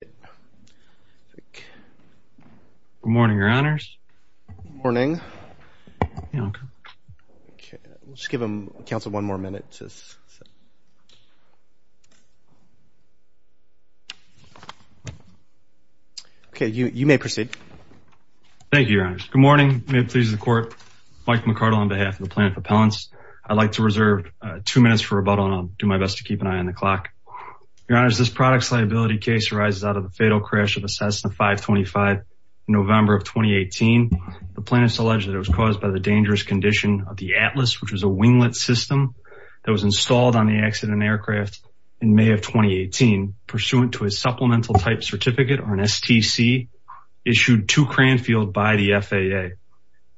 Good morning, your honors. Good morning. Okay, let's give him counsel one more minute. Okay, you may proceed. Thank you. Good morning. May it please the court. Mike McCardle on behalf of the plant propellants. I'd like to reserve two minutes for rebuttal and I'll do my best to keep an eye on the clock. Your honors, this product's liability case arises out of the fatal crash of a Cessna 525 in November of 2018. The plaintiffs alleged that it was caused by the dangerous condition of the Atlas, which was a winglet system that was installed on the accident aircraft in May of 2018, pursuant to a supplemental type certificate or an STC issued to Cranfield by the FAA.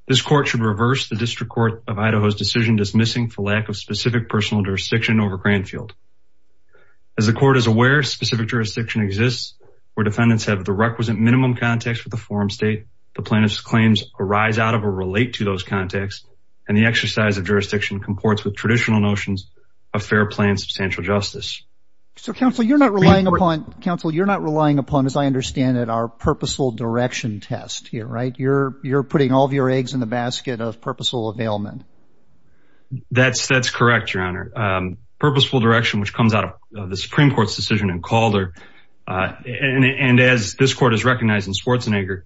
This court should reverse the district court of Idaho's decision dismissing for lack of specific personal jurisdiction over Cranfield. As the court is aware, specific jurisdiction exists where defendants have the requisite minimum context with the forum state. The plaintiff's claims arise out of or relate to those contacts, and the exercise of jurisdiction comports with traditional notions of fair, planned, substantial justice. So, counsel, you're not relying upon counsel. You're not relying upon, as I understand it, our purposeful direction test here. Right. You're you're putting all of your eggs in the basket of purposeful availment. That's that's correct, your honor. Purposeful direction, which comes out of the Supreme Court's decision in Calder. And as this court is recognized in Schwarzenegger,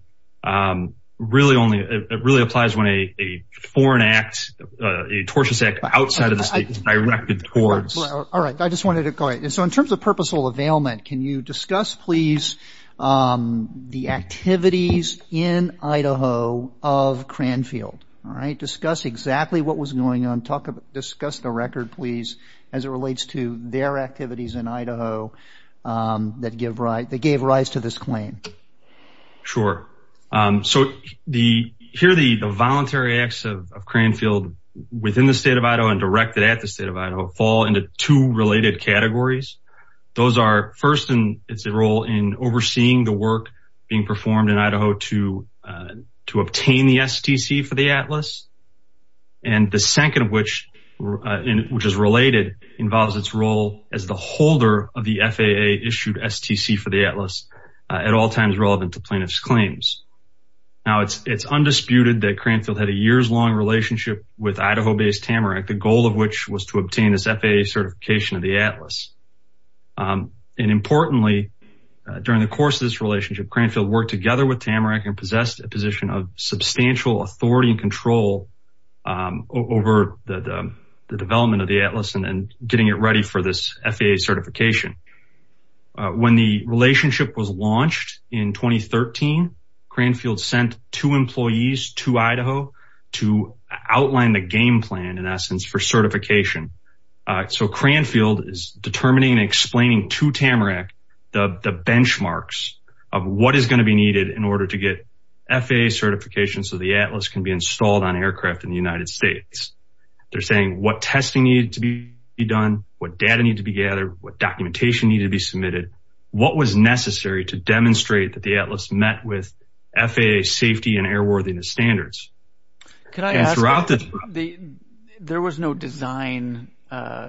really only it really applies when a foreign act, a tortious act outside of the state directed towards. All right. I just wanted to call it. And so in terms of purposeful availment, can you discuss, please, the activities in Idaho of Cranfield? All right. Discuss exactly what was going on. Talk about discuss the record, please, as it relates to their activities in Idaho that give right. They gave rise to this claim. Sure. So the here, the voluntary acts of Cranfield within the state of Idaho and directed at the state of Idaho fall into two related categories. Those are first, and it's a role in overseeing the work being performed in Idaho to to obtain the STC for the atlas. And the second of which, which is related, involves its role as the holder of the FAA issued STC for the atlas at all times relevant to plaintiff's claims. Now, it's it's undisputed that Cranfield had a years long relationship with Idaho based Tamarack, the goal of which was to obtain this FAA certification of the atlas. And importantly, during the course of this relationship, Cranfield worked together with Tamarack and possessed a position of substantial authority and control over the development of the atlas and getting it ready for this FAA certification. When the relationship was launched in 2013, Cranfield sent two employees to Idaho to outline the game plan, in essence, for certification. So Cranfield is determining and explaining to Tamarack the benchmarks of what is going to be needed in order to get FAA certification so the atlas can be installed on aircraft in the United States. They're saying what testing needed to be done, what data needed to be gathered, what documentation needed to be submitted, what was necessary to demonstrate that the atlas met with FAA safety and airworthiness standards. There was no design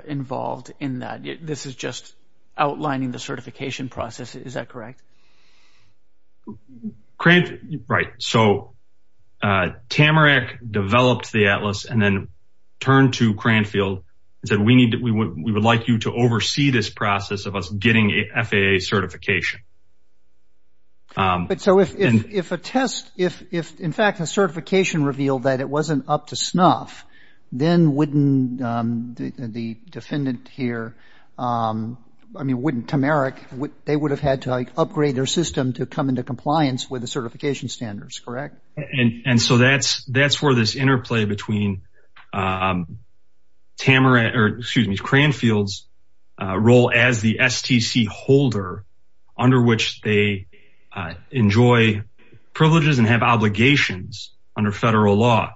involved in that. This is just outlining the certification process. Is that correct? Right. So Tamarack developed the atlas and then turned to Cranfield and said, we would like you to oversee this process of us getting FAA certification. So if a certification revealed that it wasn't up to snuff, then Tamarack would have had to upgrade their system to come into compliance with the certification standards, correct? And so that's where this interplay between Cranfield's role as the STC holder, under which they enjoy privileges and have obligations under federal law.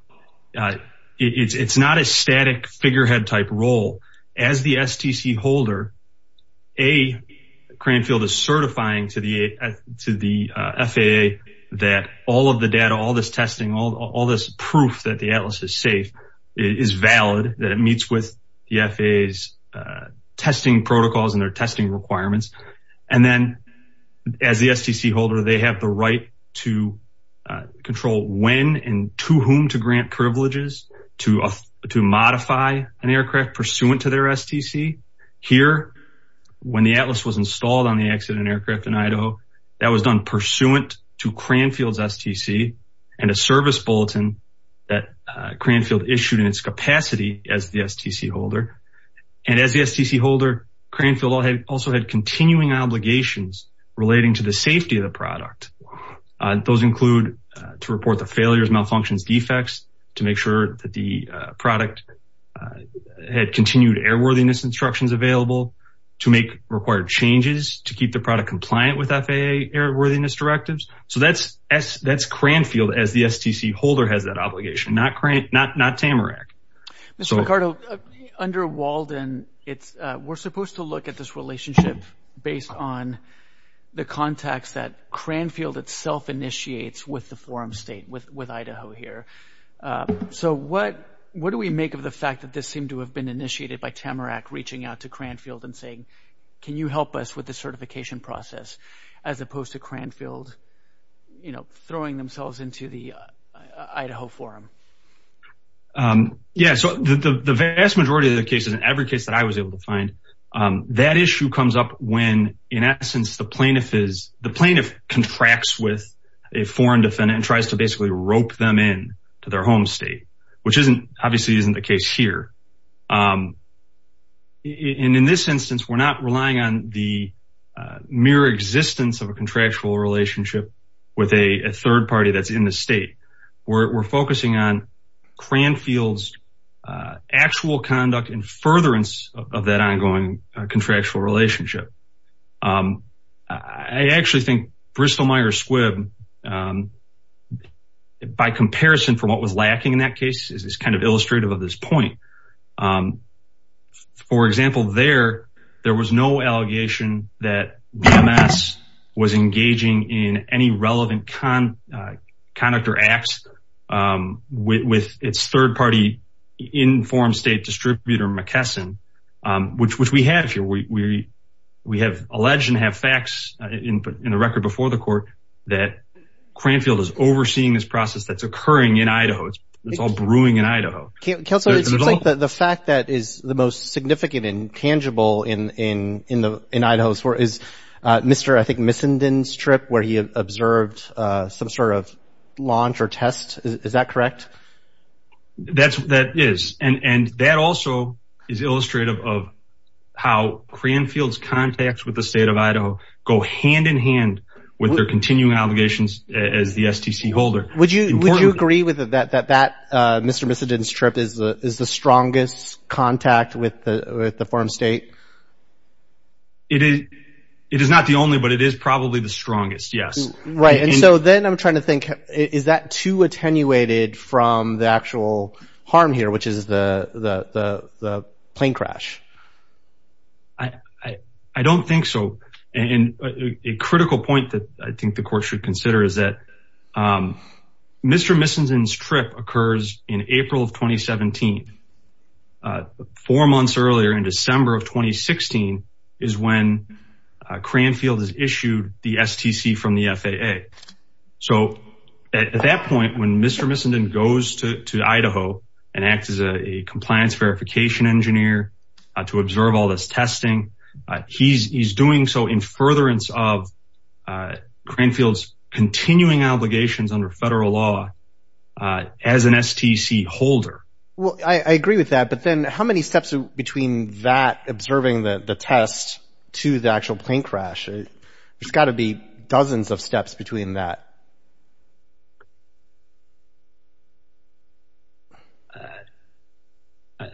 It's not a static figurehead type role. As the STC holder, Cranfield is certifying to the FAA that all of the data, all this testing, all this proof that the atlas is safe is valid, that it meets with the FAA's testing protocols and their testing requirements. And then as the STC holder, they have the right to control when and to whom to grant privileges to modify an aircraft pursuant to their STC. Here, when the atlas was installed on the accident aircraft in Idaho, that was done pursuant to Cranfield's STC and a service bulletin that Cranfield issued in its capacity as the STC holder. And as the STC holder, Cranfield also had continuing obligations relating to the safety of the product. Those include to report the failures, malfunctions, defects, to make sure that the product had continued airworthiness instructions available, to make required changes, to keep the product compliant with FAA airworthiness directives. So that's Cranfield as the STC holder has that obligation, not Tamarack. Mr. Ricardo, under Walden, we're supposed to look at this relationship based on the context that Cranfield itself initiates with the forum state, with Idaho here. So what do we make of the fact that this seemed to have been initiated by Tamarack reaching out to Cranfield and saying, can you help us with the certification process, as opposed to Cranfield throwing themselves into the Idaho forum? Yeah, so the vast majority of the cases, in every case that I was able to find, that issue comes up when, in essence, the plaintiff contracts with a foreign defendant and tries to basically rope them in to their home state, which obviously isn't the case here. And in this instance, we're not relying on the mere existence of a contractual relationship with a third party that's in the state. We're focusing on Cranfield's actual conduct and furtherance of that ongoing contractual relationship. I actually think Bristol-Myers-Squibb, by comparison for what was lacking in that case, is kind of illustrative of this point. For example, there was no allegation that BMS was engaging in any relevant conduct or acts with its third party in forum state distributor McKesson, which we have here. We have alleged and have facts in the record before the court that Cranfield is overseeing this process that's occurring in Idaho. It's all brewing in Idaho. Counselor, it seems like the fact that is the most significant and tangible in Idaho is Mr., I think, Missenden's trip, where he observed some sort of launch or test. Is that correct? That is. And that also is illustrative of how Cranfield's contacts with the state of Idaho go hand in hand with their continuing obligations as the STC holder. Would you agree that Mr. Missenden's trip is the strongest contact with the forum state? It is not the only, but it is probably the strongest, yes. Right. And so then I'm trying to think, is that too attenuated from the actual harm here, which is the plane crash? I don't think so. And a critical point that I think the court should consider is that Mr. Missenden's trip occurs in April of 2017. Four months earlier in December of 2016 is when Cranfield has issued the STC from the FAA. So at that point, when Mr. Missenden goes to Idaho and acts as a compliance verification engineer to observe all this testing, he's doing so in furtherance of Cranfield's continuing obligations under federal law as an STC holder. Well, I agree with that. But then how many steps between that observing the test to the actual plane crash? There's got to be dozens of steps between that.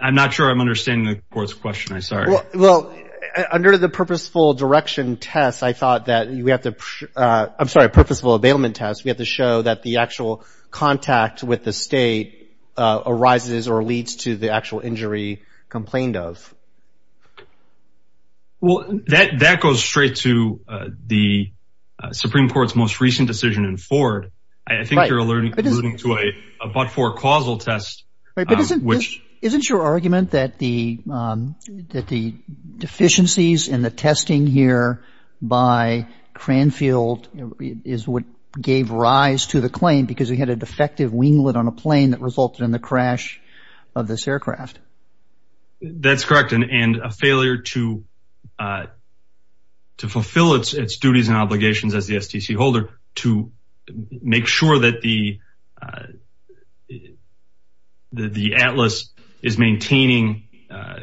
I'm not sure I'm understanding the court's question. I'm sorry. Well, under the purposeful direction test, I thought that we have to, I'm sorry, purposeful availment test. We have to show that the actual contact with the state arises or leads to the actual injury complained of. Well, that goes straight to the Supreme Court's most recent decision in Ford. I think you're alluding to a but-for-causal test. Isn't your argument that the deficiencies in the testing here by Cranfield is what gave rise to the claim because we had a defective winglet on a plane that resulted in the crash of this aircraft? That's correct. And a failure to fulfill its duties and obligations as the STC holder to make sure that the Atlas is maintaining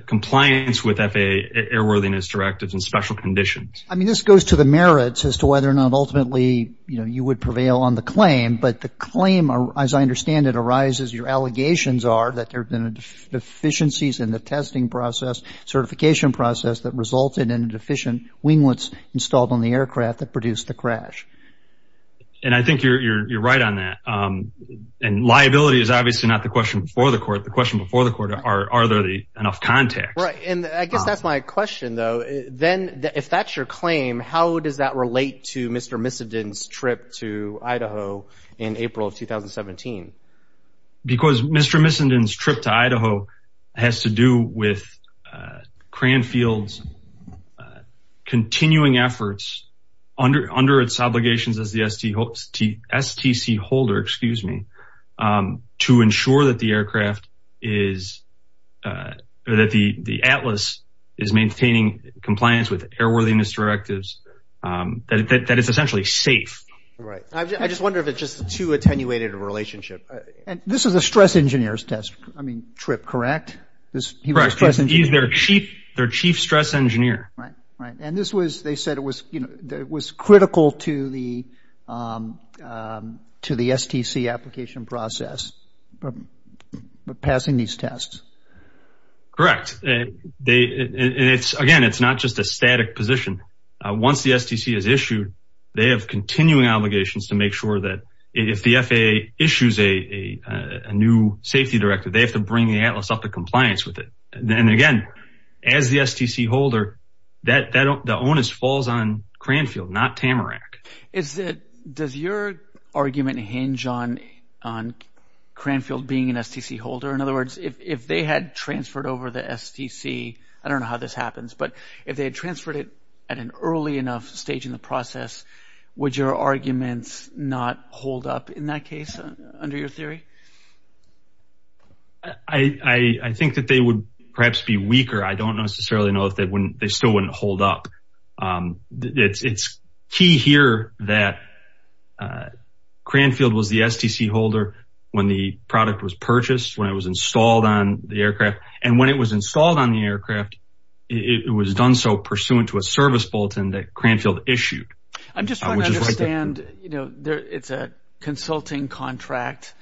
compliance with FAA airworthiness directives and special conditions. I mean, this goes to the merits as to whether or not ultimately you would prevail on the claim. But the claim, as I understand it, arises, your allegations are, that there have been deficiencies in the testing process, certification process, that resulted in a deficient winglets installed on the aircraft that produced the crash. And I think you're right on that. And liability is obviously not the question before the court. The question before the court are, are there enough contacts? Right. And I guess that's my question, though. Then if that's your claim, how does that relate to Mr. Missenden's trip to Idaho in April of 2017? Because Mr. Missenden's trip to Idaho has to do with Cranfield's continuing efforts under its obligations as the STC holder, excuse me, to ensure that the aircraft is, that the Atlas is maintaining compliance with airworthiness directives, that it's essentially safe. Right. I just wonder if it's just too attenuated a relationship. This is a stress engineer's test, I mean, trip, correct? Correct. He's their chief stress engineer. Right. And this was, they said it was, you know, it was critical to the STC application process, passing these tests. Correct. And it's, again, it's not just a static position. Once the STC is issued, they have continuing obligations to make sure that if the FAA issues a new safety directive, they have to bring the Atlas up to compliance with it. And, again, as the STC holder, the onus falls on Cranfield, not Tamarack. Is it, does your argument hinge on Cranfield being an STC holder? In other words, if they had transferred over the STC, I don't know how this happens, but if they had transferred it at an early enough stage in the process, would your arguments not hold up in that case, under your theory? I think that they would perhaps be weaker. I don't necessarily know if they still wouldn't hold up. It's key here that Cranfield was the STC holder when the product was purchased, when it was installed on the aircraft. And when it was installed on the aircraft, it was done so pursuant to a service bulletin that Cranfield issued. I'm just trying to understand, you know, it's a consulting contract.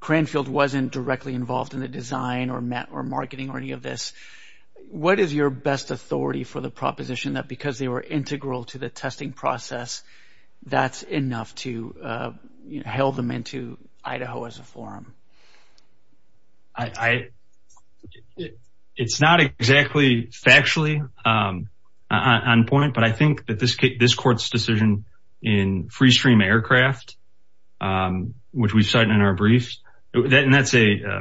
Cranfield wasn't directly involved in the design or marketing or any of this. What is your best authority for the proposition that because they were integral to the testing process, that's enough to hail them into Idaho as a forum? It's not exactly factually on point, but I think that this court's decision in Freestream Aircraft, which we've cited in our briefs, and that's a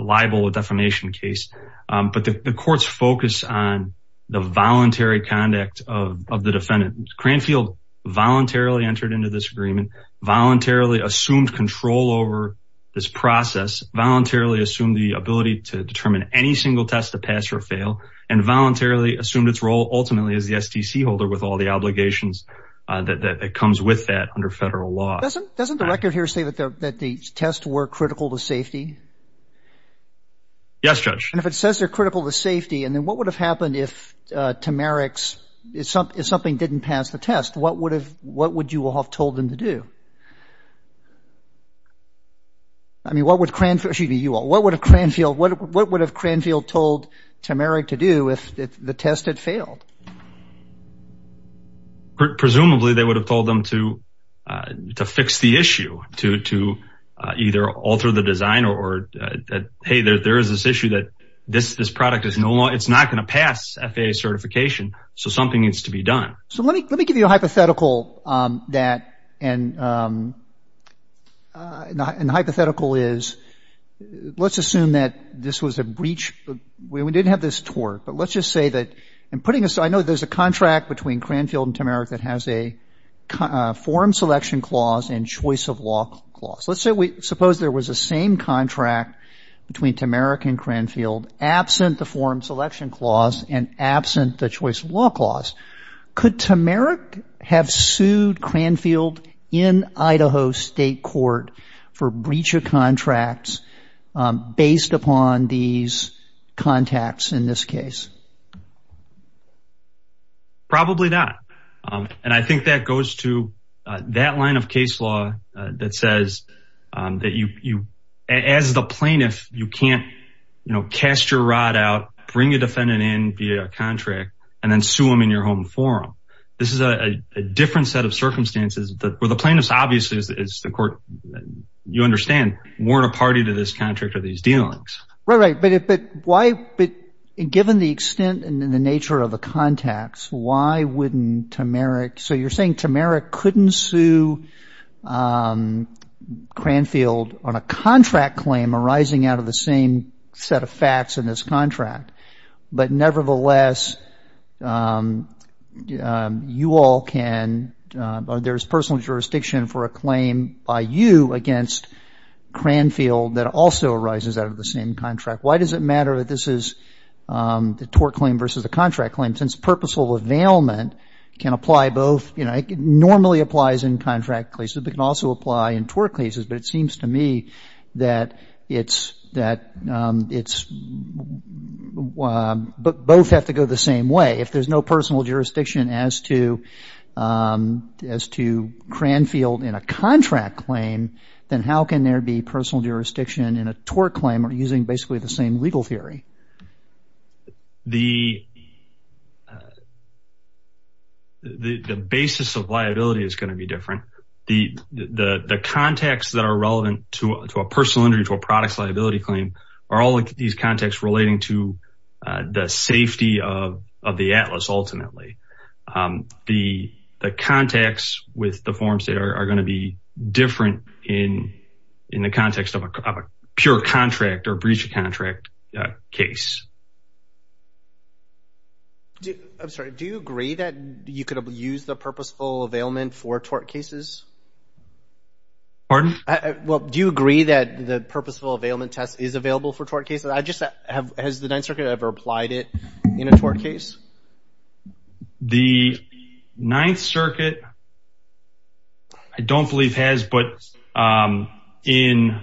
libel or defamation case, but the court's focus on the voluntary conduct of the defendant. Cranfield voluntarily entered into this agreement, voluntarily assumed control over this process, voluntarily assumed the ability to determine any single test to pass or fail, and voluntarily assumed its role ultimately as the STC holder with all the obligations that comes with that under federal law. Doesn't the record here say that the tests were critical to safety? Yes, Judge. And if it says they're critical to safety, and then what would have happened if Tamarix, if something didn't pass the test, what would you all have told them to do? I mean, what would Cranfield, excuse me, you all, what would have Cranfield, what would have Cranfield told Tamarix to do if the test had failed? Presumably they would have told them to fix the issue, to either alter the design or, hey, there is this issue that this product is no longer, it's not going to pass FAA certification, so something needs to be done. So let me give you a hypothetical that, and the hypothetical is, let's assume that this was a breach, we didn't have this tort, but let's just say that in putting this, I know there's a contract between Cranfield and Tamarix that has a form selection clause and choice of law clause. Let's say we suppose there was the same contract between Tamarix and Cranfield, absent the form selection clause and absent the choice of law clause. Could Tamarix have sued Cranfield in Idaho State Court for breach of contracts based upon these contacts in this case? Probably not. And I think that goes to that line of case law that says that you, as the plaintiff, you can't, you know, cast your rod out, bring a defendant in, be a contract, and then sue them in your home forum. This is a different set of circumstances where the plaintiffs obviously, as the court, you understand, weren't a party to this contract or these dealings. Right, right. But why, given the extent and the nature of the contacts, why wouldn't Tamarix, so you're saying Tamarix couldn't sue Cranfield on a contract claim arising out of the same set of facts in this contract, but nevertheless, you all can, there's personal jurisdiction for a claim by you against Cranfield that also arises out of the same contract. Why does it matter that this is the tort claim versus a contract claim, since purposeful availment can apply both, you know, it normally applies in contract cases, but it can also apply in tort cases. But it seems to me that it's, that it's, both have to go the same way. If there's no personal jurisdiction as to Cranfield in a contract claim, then how can there be personal jurisdiction in a tort claim using basically the same legal theory? The basis of liability is going to be different. The contacts that are relevant to a personal injury, to a product's liability claim, are all these contacts relating to the safety of the atlas, ultimately. The contacts with the forum state are going to be different in the context of a pure contract or breach of contract case. I'm sorry, do you agree that you could use the purposeful availment for tort cases? Pardon? Well, do you agree that the purposeful availment test is available for tort cases? I just have, has the Ninth Circuit ever applied it in a tort case? The Ninth Circuit, I don't believe has, but in,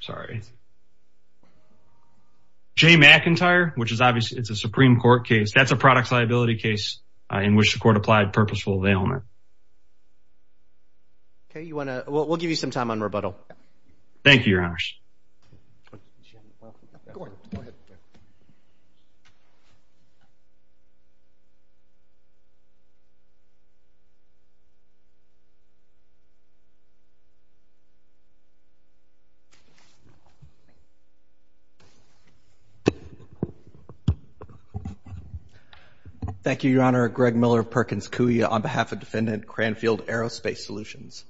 sorry, Jay McIntyre, which is obviously, it's a Supreme Court case, that's a product's liability case in which the court applied purposeful availment. Okay, you want to, we'll give you some time on rebuttal. Thank you, Your Honors. Thank you, Your Honor. Greg Miller of Perkins Coie on behalf of Defendant Cranfield Aerospace Solutions.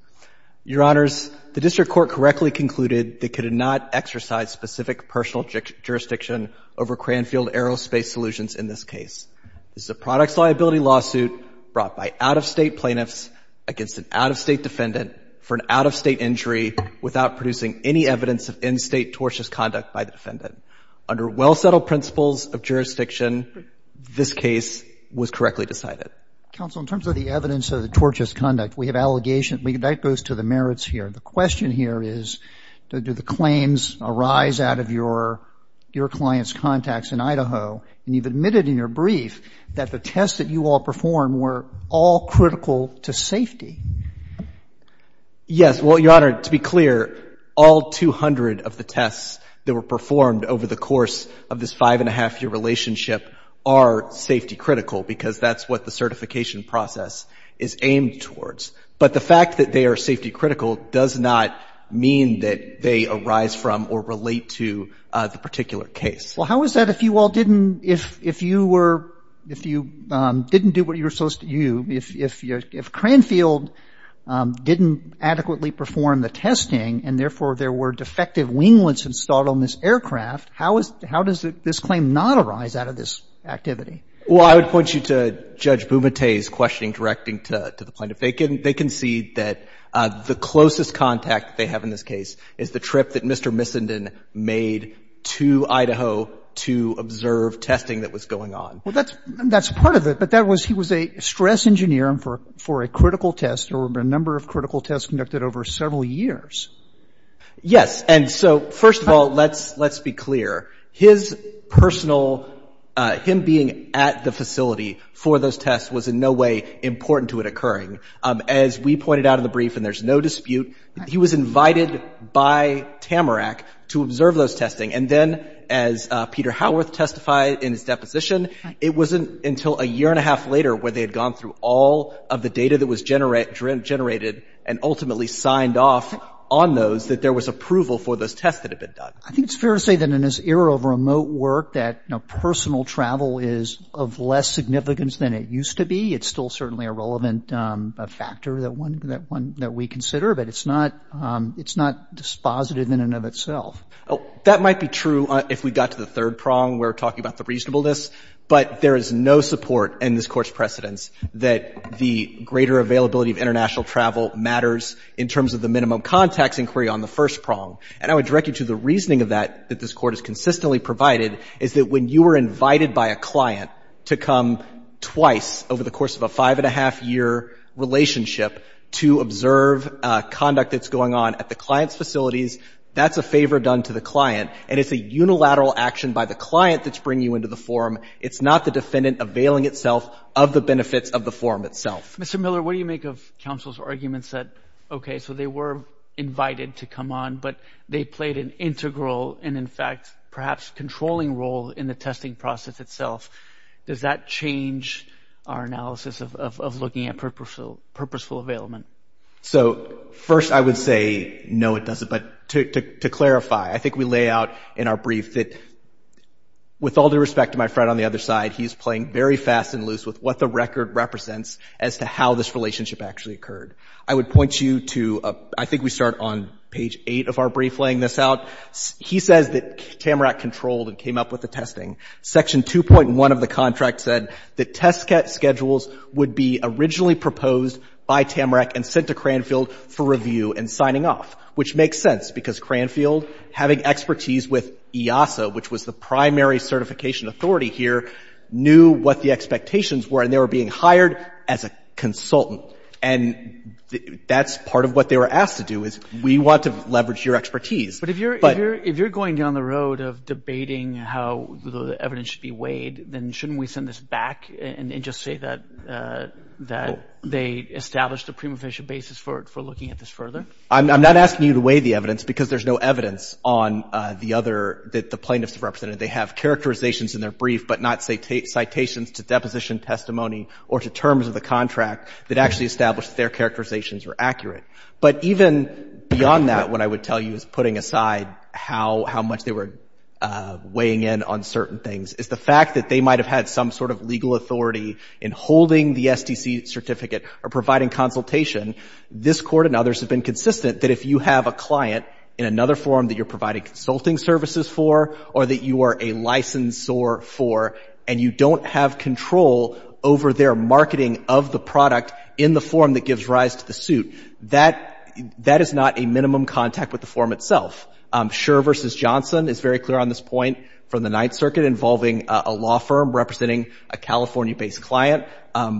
Your Honors, the district court correctly concluded they could not exercise specific personal jurisdiction over Cranfield Aerospace Solutions in this case. This is a product's liability lawsuit brought by out-of-State plaintiffs against an out-of-State defendant for an out-of-State injury without producing any evidence of in-State tortious conduct by the defendant. Under well-settled principles of jurisdiction, this case was correctly decided. Counsel, in terms of the evidence of the tortious conduct, we have allegations and that goes to the merits here. The question here is, do the claims arise out of your client's contacts in Idaho? And you've admitted in your brief that the tests that you all performed were all critical to safety. Yes. Well, Your Honor, to be clear, all 200 of the tests that were performed over the course of this five-and-a-half-year relationship are safety critical because that's what the certification process is aimed towards. But the fact that they are safety critical does not mean that they arise from or relate to the particular case. Well, how is that if you all didn't, if you were, if you didn't do what you were supposed to do, if Cranfield didn't adequately perform the testing and therefore there were defective winglets installed on this aircraft, how is, how does this claim not arise out of this activity? Well, I would point you to Judge Bumate's questioning directing to the plaintiff. They concede that the closest contact they have in this case is the trip that Mr. Missenden made to Idaho to observe testing that was going on. Well, that's part of it. But that was, he was a stress engineer for a critical test or a number of critical tests conducted over several years. Yes. And so first of all, let's, let's be clear. His personal, him being at the facility for those tests was in no way important to it occurring. As we pointed out in the brief, and there's no dispute, he was invited by Tamarack to observe those testing. And then as Peter Howarth testified in his deposition, it wasn't until a year-and-a-half later where they had gone through all of the data that was generated and ultimately signed off on those that there was approval for those tests that had been done. I think it's fair to say that in this era of remote work that, you know, personal travel is of less significance than it used to be. It's still certainly a relevant factor that one, that one that we consider. But it's not, it's not dispositive in and of itself. That might be true if we got to the third prong where we're talking about the reasonableness. But there is no support in this Court's precedence that the greater availability of international travel matters in terms of the minimum contacts inquiry on the first prong. And I would direct you to the reasoning of that, that this Court has consistently provided, is that when you were invited by a client to come twice over the course of a five-and-a-half-year relationship to observe conduct that's going on at the client's facilities, that's a favor done to the client, and it's a unilateral action by the client that's bringing you into the forum. It's not the defendant availing itself of the benefits of the forum itself. Mr. Miller, what do you make of counsel's arguments that, okay, so they were invited to come on, but they played an integral and, in fact, perhaps controlling role in the testing process itself? Does that change our analysis of looking at purposeful, purposeful availment? So, first, I would say, no, it doesn't. But to clarify, I think we lay out in our brief that, with all due respect to my friend on the other side, he's playing very fast and loose with what the record represents as to how this relationship actually occurred. I would point you to — I think we start on page 8 of our brief laying this out. He says that Tamarack controlled and came up with the testing. Section 2.1 of the contract said that test schedules would be originally proposed by Tamarack and sent to Cranfield for review and signing off, which makes sense, because Cranfield, having expertise with EASA, which was the primary certification authority here, knew what the expectations were, and they were being hired as a consultant. And that's part of what they were asked to do, is we want to leverage your expertise. But — But if you're going down the road of debating how the evidence should be weighed, then shouldn't we send this back and just say that they established a prima facie basis for looking at this further? I'm not asking you to weigh the evidence, because there's no evidence on the other side that the plaintiffs represented. They have characterizations in their brief, but not citations to deposition testimony or to terms of the contract that actually established that their characterizations were accurate. But even beyond that, what I would tell you is putting aside how much they were weighing in on certain things, is the fact that they might have had some sort of legal authority in holding the STC certificate or providing consultation. This Court and others have been consistent that if you have a client in another forum that you're providing consulting services for or that you are a licensor for and you don't have control over their marketing of the product in the forum that gives rise to the suit, that — that is not a minimum contact with the forum itself. Schur v. Johnson is very clear on this point from the Ninth Circuit involving a law firm representing a California-based client.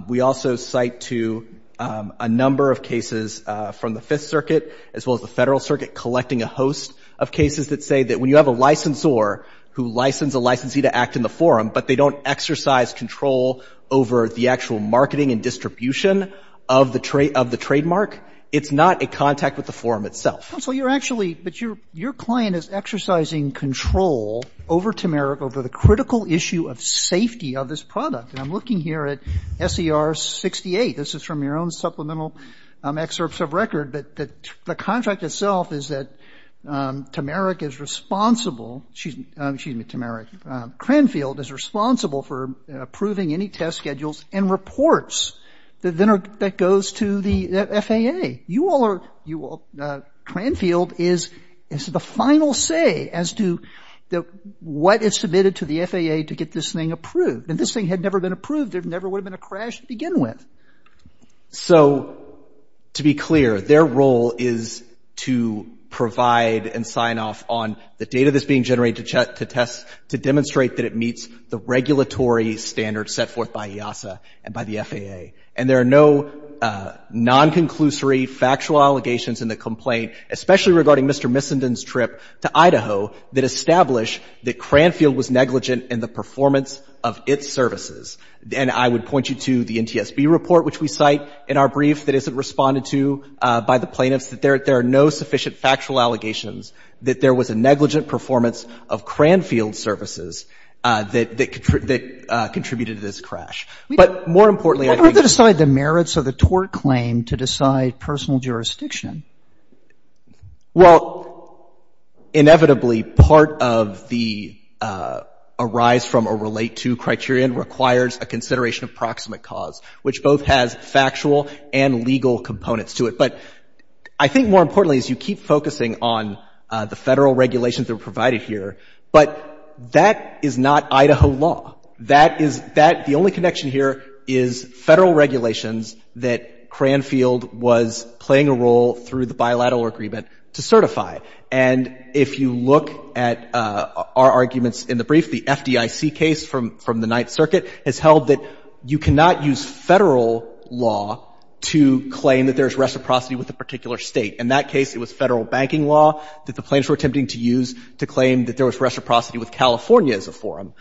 We also cite to a number of cases from the Fifth Circuit as well as the Federal Circuit collecting a host of cases that say that when you have a licensor who licenses a licensee to act in the forum, but they don't exercise control over the actual marketing and distribution of the trademark, it's not a contact with the forum itself. So you're actually — but your client is exercising control over Tameric over the critical issue of safety of this product. And I'm looking here at S.E.R. 68. This is from your own supplemental excerpts of record. But the contract itself is that Tameric is responsible — excuse me, Tameric. Cranfield is responsible for approving any test schedules and reports that goes to the FAA. You all are — Cranfield is the final say as to what is submitted to the FAA to get this thing approved. And this thing had never been approved. There never would have been a crash to begin with. So to be clear, their role is to provide and sign off on the data that's being generated to test — to demonstrate that it meets the regulatory standards set forth by EASA and by the FAA. And there are no non-conclusory factual allegations in the complaint, especially regarding Mr. Missenden's trip to Idaho, that establish that Cranfield was negligent in the performance of its services. And I would point you to the NTSB report, which we cite in our brief, that isn't responded to by the plaintiffs, that there are no sufficient factual allegations that there was a negligent performance of Cranfield's services that contributed to this crash. But more importantly, I think — What are the merits of the tort claim to decide personal jurisdiction? Well, inevitably, part of the arise from or relate to criterion requires a consideration of proximate cause, which both has factual and legal components to it. But I think more importantly is you keep focusing on the Federal regulations that are provided here, but that is not Idaho law. That is — that — the only connection here is Federal regulations that Cranfield was playing a role through the bilateral agreement to certify. And if you look at our arguments in the brief, the FDIC case from — from the Ninth Circuit has held that you cannot use Federal law to claim that there is reciprocity with a particular State. In that case, it was Federal banking law that the plaintiffs were attempting to use to claim that there was reciprocity with California as a forum.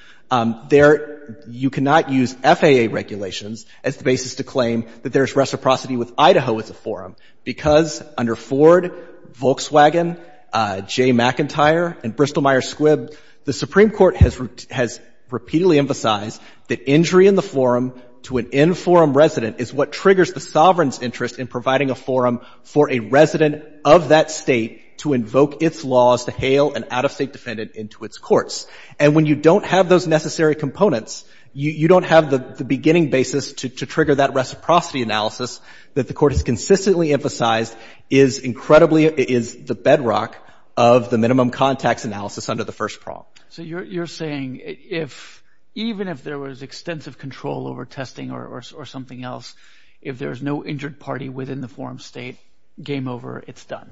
There — you cannot use FAA regulations as the basis to claim that there is reciprocity with Idaho as a forum, because under Ford, Volkswagen, Jay McIntyre, and Bristol-Myers Squibb, the Supreme Court has — has repeatedly emphasized that injury in the forum to an in-forum resident is what triggers the sovereign's interest in providing a forum for a resident of that State to invoke its laws to hail an out-of-State defendant into its courts. And when you don't have those necessary components, you don't have the — the beginning basis to — to trigger that reciprocity analysis that the Court has consistently emphasized is incredibly — is the bedrock of the minimum context analysis under the first prong. So you're — you're saying if — even if there was extensive control over testing or — or something else, if there is no injured party within the forum State, game over, it's done?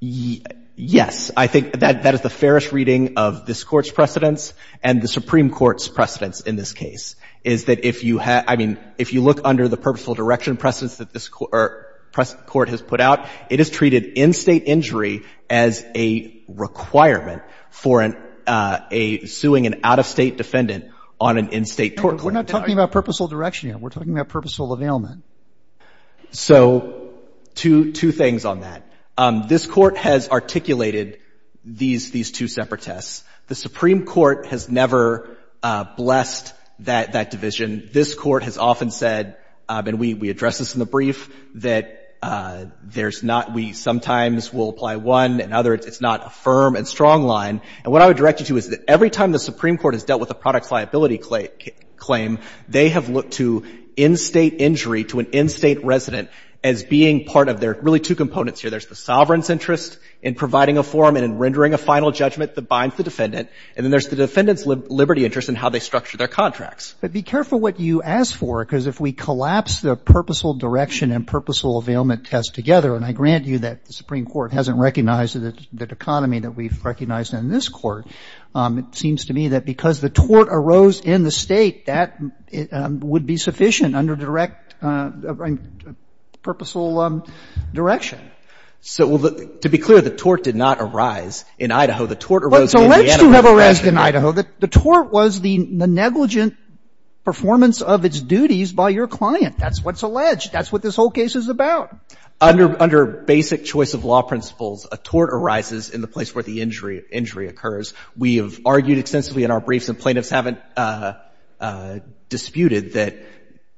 Yes. I think that — that is the fairest reading of this Court's precedents and the Supreme Court's precedents in this case, is that if you have — I mean, if you look under the purposeful direction precedents that this Court has put out, it has treated in-State injury as a requirement for a — a suing an out-of-State defendant on an in-State tort claim. We're not talking about purposeful direction here. We're talking about purposeful availment. So two — two things on that. This Court has articulated these — these two separate tests. The Supreme Court has never blessed that — that division. This Court has often said — and we — we address this in the brief — that there's not — we sometimes will apply one and other. It's not a firm and strong line. And what I would direct you to is that every time the Supreme Court has dealt with a product liability claim, they have looked to in-State injury to an in-State resident as being part of their — really two components here. There's the sovereign's interest in providing a forum and in rendering a final judgment that binds the defendant, and then there's the defendant's liberty interest in how they structure their contracts. Roberts. But be careful what you ask for, because if we collapse the purposeful direction and purposeful availment test together, and I grant you that the Supreme Court hasn't recognized the dichotomy that we've recognized in this Court, it seems to me that because the tort arose in the State, that would be sufficient under direct purposeful direction. So to be clear, the tort did not arise in Idaho. The tort arose in Indiana. Well, it's alleged to have arised in Idaho. The tort was the negligent performance of its duties by your client. That's what's alleged. That's what this whole case is about. Under basic choice of law principles, a tort arises in the place where the injury occurs. We have argued extensively in our briefs, and plaintiffs haven't disputed, that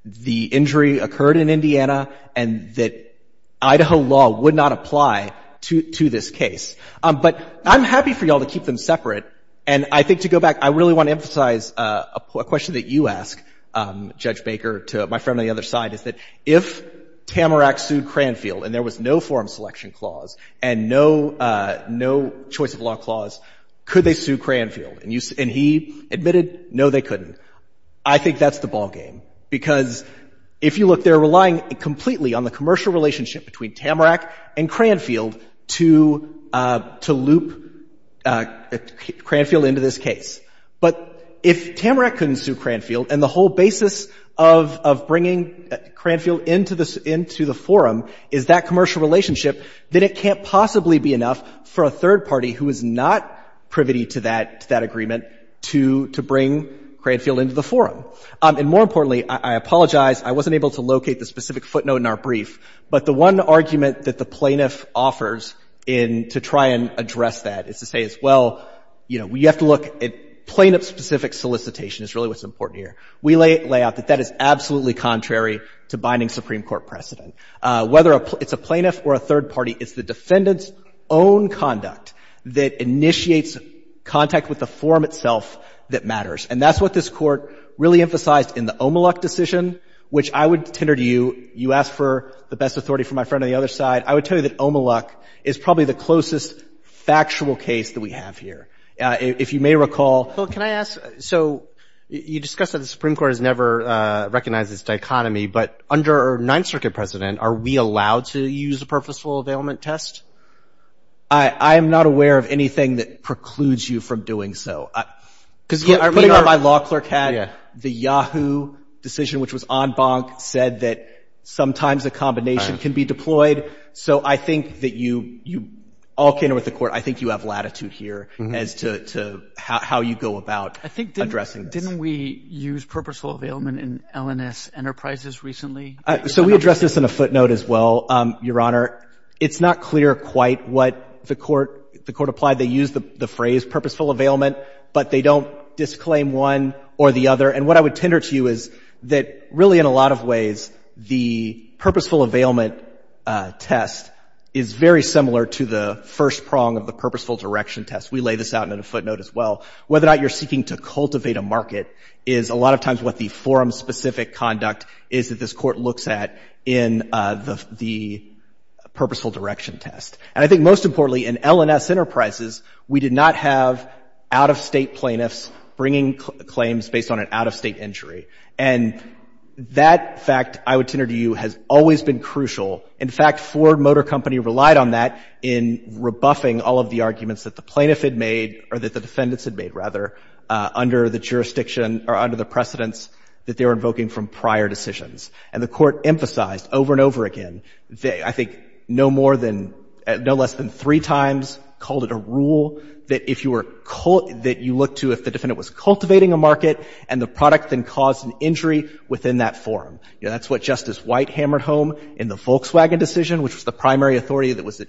the injury occurred in Indiana and that Idaho law would not apply to this case. But I'm happy for you all to keep them separate. And I think to go back, I really want to emphasize a question that you ask, Judge Baker, to my friend on the other side, is that if Tamarack sued Cranfield and there was no forum selection clause and no choice of law clause, could they sue Cranfield? And he admitted, no, they couldn't. I think that's the ballgame, because if you look, they're relying completely on the commercial relationship between Tamarack and Cranfield to loop Cranfield into this case. But if Tamarack couldn't sue Cranfield and the whole basis of bringing Cranfield into the forum is that commercial relationship, then it can't possibly be enough for a third party who is not privity to that agreement to bring Cranfield into the forum. And more importantly, I apologize, I wasn't able to locate the specific footnote in our brief, but the one argument that the plaintiff offers in to try and address that is to say, well, you have to look at plaintiff-specific solicitation is really what's important here. We lay out that that is absolutely contrary to binding Supreme Court precedent. Whether it's a plaintiff or a third party, it's the defendant's own conduct that initiates contact with the forum itself that matters. And that's what this Court really emphasized in the Omeluk decision, which I would say to you, you ask for the best authority from my friend on the other side, I would tell you that Omeluk is probably the closest factual case that we have here. If you may recall. Roberts. So can I ask, so you discussed that the Supreme Court has never recognized this dichotomy, but under Ninth Circuit precedent, are we allowed to use a purposeful availment test? I am not aware of anything that precludes you from doing so. Putting it on my law clerk hat, the Yahoo decision, which was en banc, said that sometimes a combination can be deployed. So I think that you all came to the Court. I think you have latitude here as to how you go about addressing this. Didn't we use purposeful availment in LNS enterprises recently? So we addressed this in a footnote as well, Your Honor. It's not clear quite what the Court applied. They used the phrase purposeful availment, but they don't disclaim one or the other. And what I would tender to you is that really in a lot of ways, the purposeful availment test is very similar to the first prong of the purposeful direction test. We lay this out in a footnote as well. Whether or not you're seeking to cultivate a market is a lot of times what the forum specific conduct is that this Court looks at in the purposeful direction test. And I think most importantly, in LNS enterprises, we did not have out-of-state plaintiffs bringing claims based on an out-of-state injury. And that fact, I would tender to you, has always been crucial. In fact, Ford Motor Company relied on that in rebuffing all of the arguments that the plaintiff had made, or that the defendants had made, rather, under the precedents that they were invoking from prior decisions. And the Court emphasized over and over again, I think no more than, no less than three times, called it a rule that if you were, that you look to if the defendant was cultivating a market and the product then caused an injury within that forum. That's what Justice White hammered home in the Volkswagen decision, which was the primary authority that was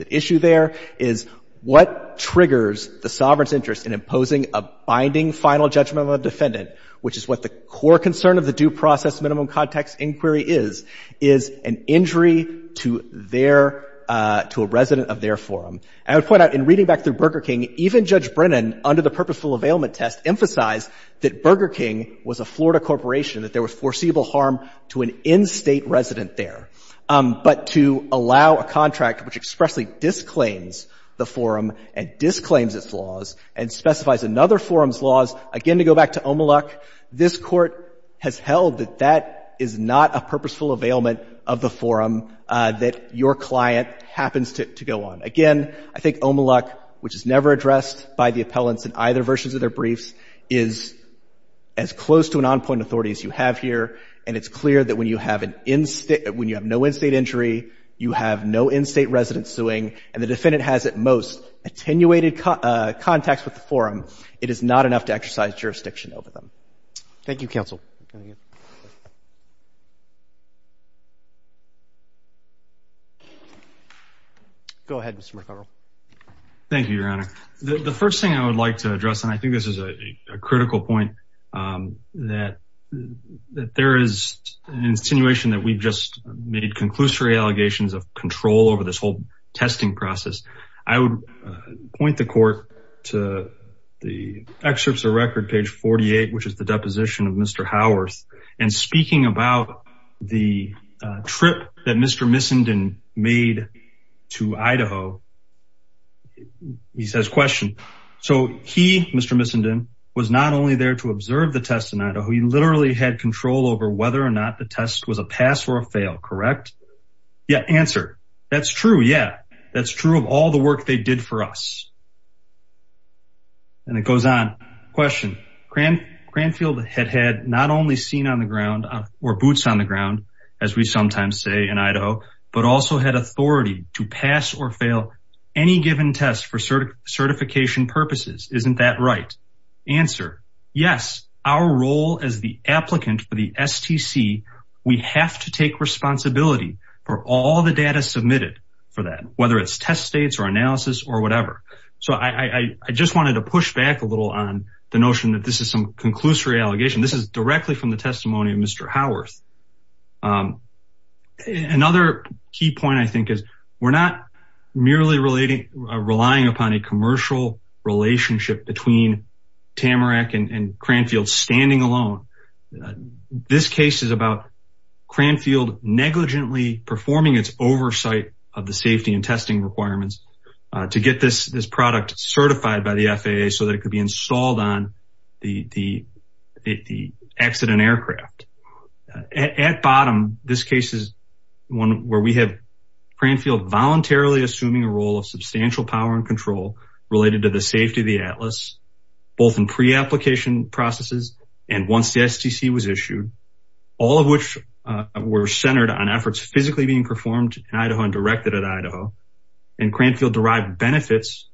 at issue there, is what triggers the sovereign's interest in imposing a binding final judgment on the defendant, which is what the core concern of the due process minimum context inquiry is, is an injury to their — to a resident of their forum. And I would point out, in reading back through Burger King, even Judge Brennan, under the purposeful availment test, emphasized that Burger King was a Florida corporation, that there was foreseeable harm to an in-State resident there. But to allow a contract which expressly disclaims the forum and disclaims its laws and specifies another forum's laws, again to go back to Omeluk, this Court has held that that is not a purposeful availment of the forum that your client happens to — to go on. Again, I think Omeluk, which is never addressed by the appellants in either versions of their briefs, is as close to an on-point authority as you have here. And it's clear that when you have an — when you have no in-State injury, you have no in-State resident suing, and the defendant has, at most, attenuated contacts with the forum, it is not enough to exercise jurisdiction over them. Thank you, Counsel. Go ahead, Mr. McArdle. Thank you, Your Honor. The first thing I would like to address, and I think this is a critical point, that there is an insinuation that we've just made conclusory allegations of control over this whole testing process. I would point the Court to the excerpts of record, page 48, which is the deposition of Mr. Howarth, and speaking about the trip that Mr. Missenden made to Idaho, he says, question. So he, Mr. Missenden, was not only there to observe the test in Idaho, he literally had control over whether or not the test was a pass or a fail, correct? Yeah, answer. That's true, yeah. That's true of all the work they did for us. And it goes on. Question. Cranfield had had not only seen on the ground, or boots on the ground, as we sometimes say in Idaho, but also had authority to pass or fail any given test for certification purposes. Isn't that right? Answer. Yes, our role as the applicant for the STC, we have to take responsibility for all the data submitted for that, whether it's test states or analysis or whatever. So I just wanted to push back a little on the notion that this is some conclusory allegation. This is directly from the testimony of Mr. Howarth. Another key point, I think, is we're not merely relying upon a commercial relationship between Tamarack and Cranfield standing alone. This case is about Cranfield negligently performing its oversight of the safety and testing requirements to get this product certified by the FAA so that it could be installed on the accident aircraft. At bottom, this case is one where we have Cranfield voluntarily assuming a role of substantial power and control related to the safety of the Atlas, both in pre-application processes and once the STC was issued, all of which were centered on efforts physically being performed in Idaho and directed at Idaho. And Cranfield derived benefits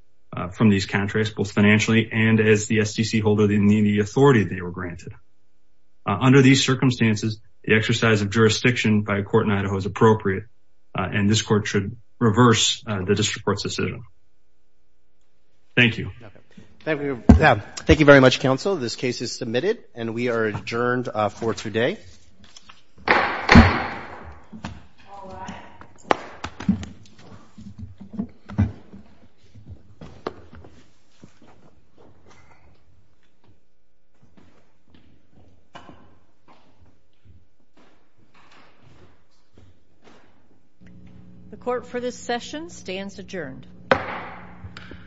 from these contracts, both financially and as the STC holder in the authority they were granted. Under these circumstances, the exercise of jurisdiction by a court in Idaho is appropriate and this court should reverse the district court's decision. Thank you. Thank you very much, counsel. This case is submitted and we are adjourned for today. The court for this session stands adjourned.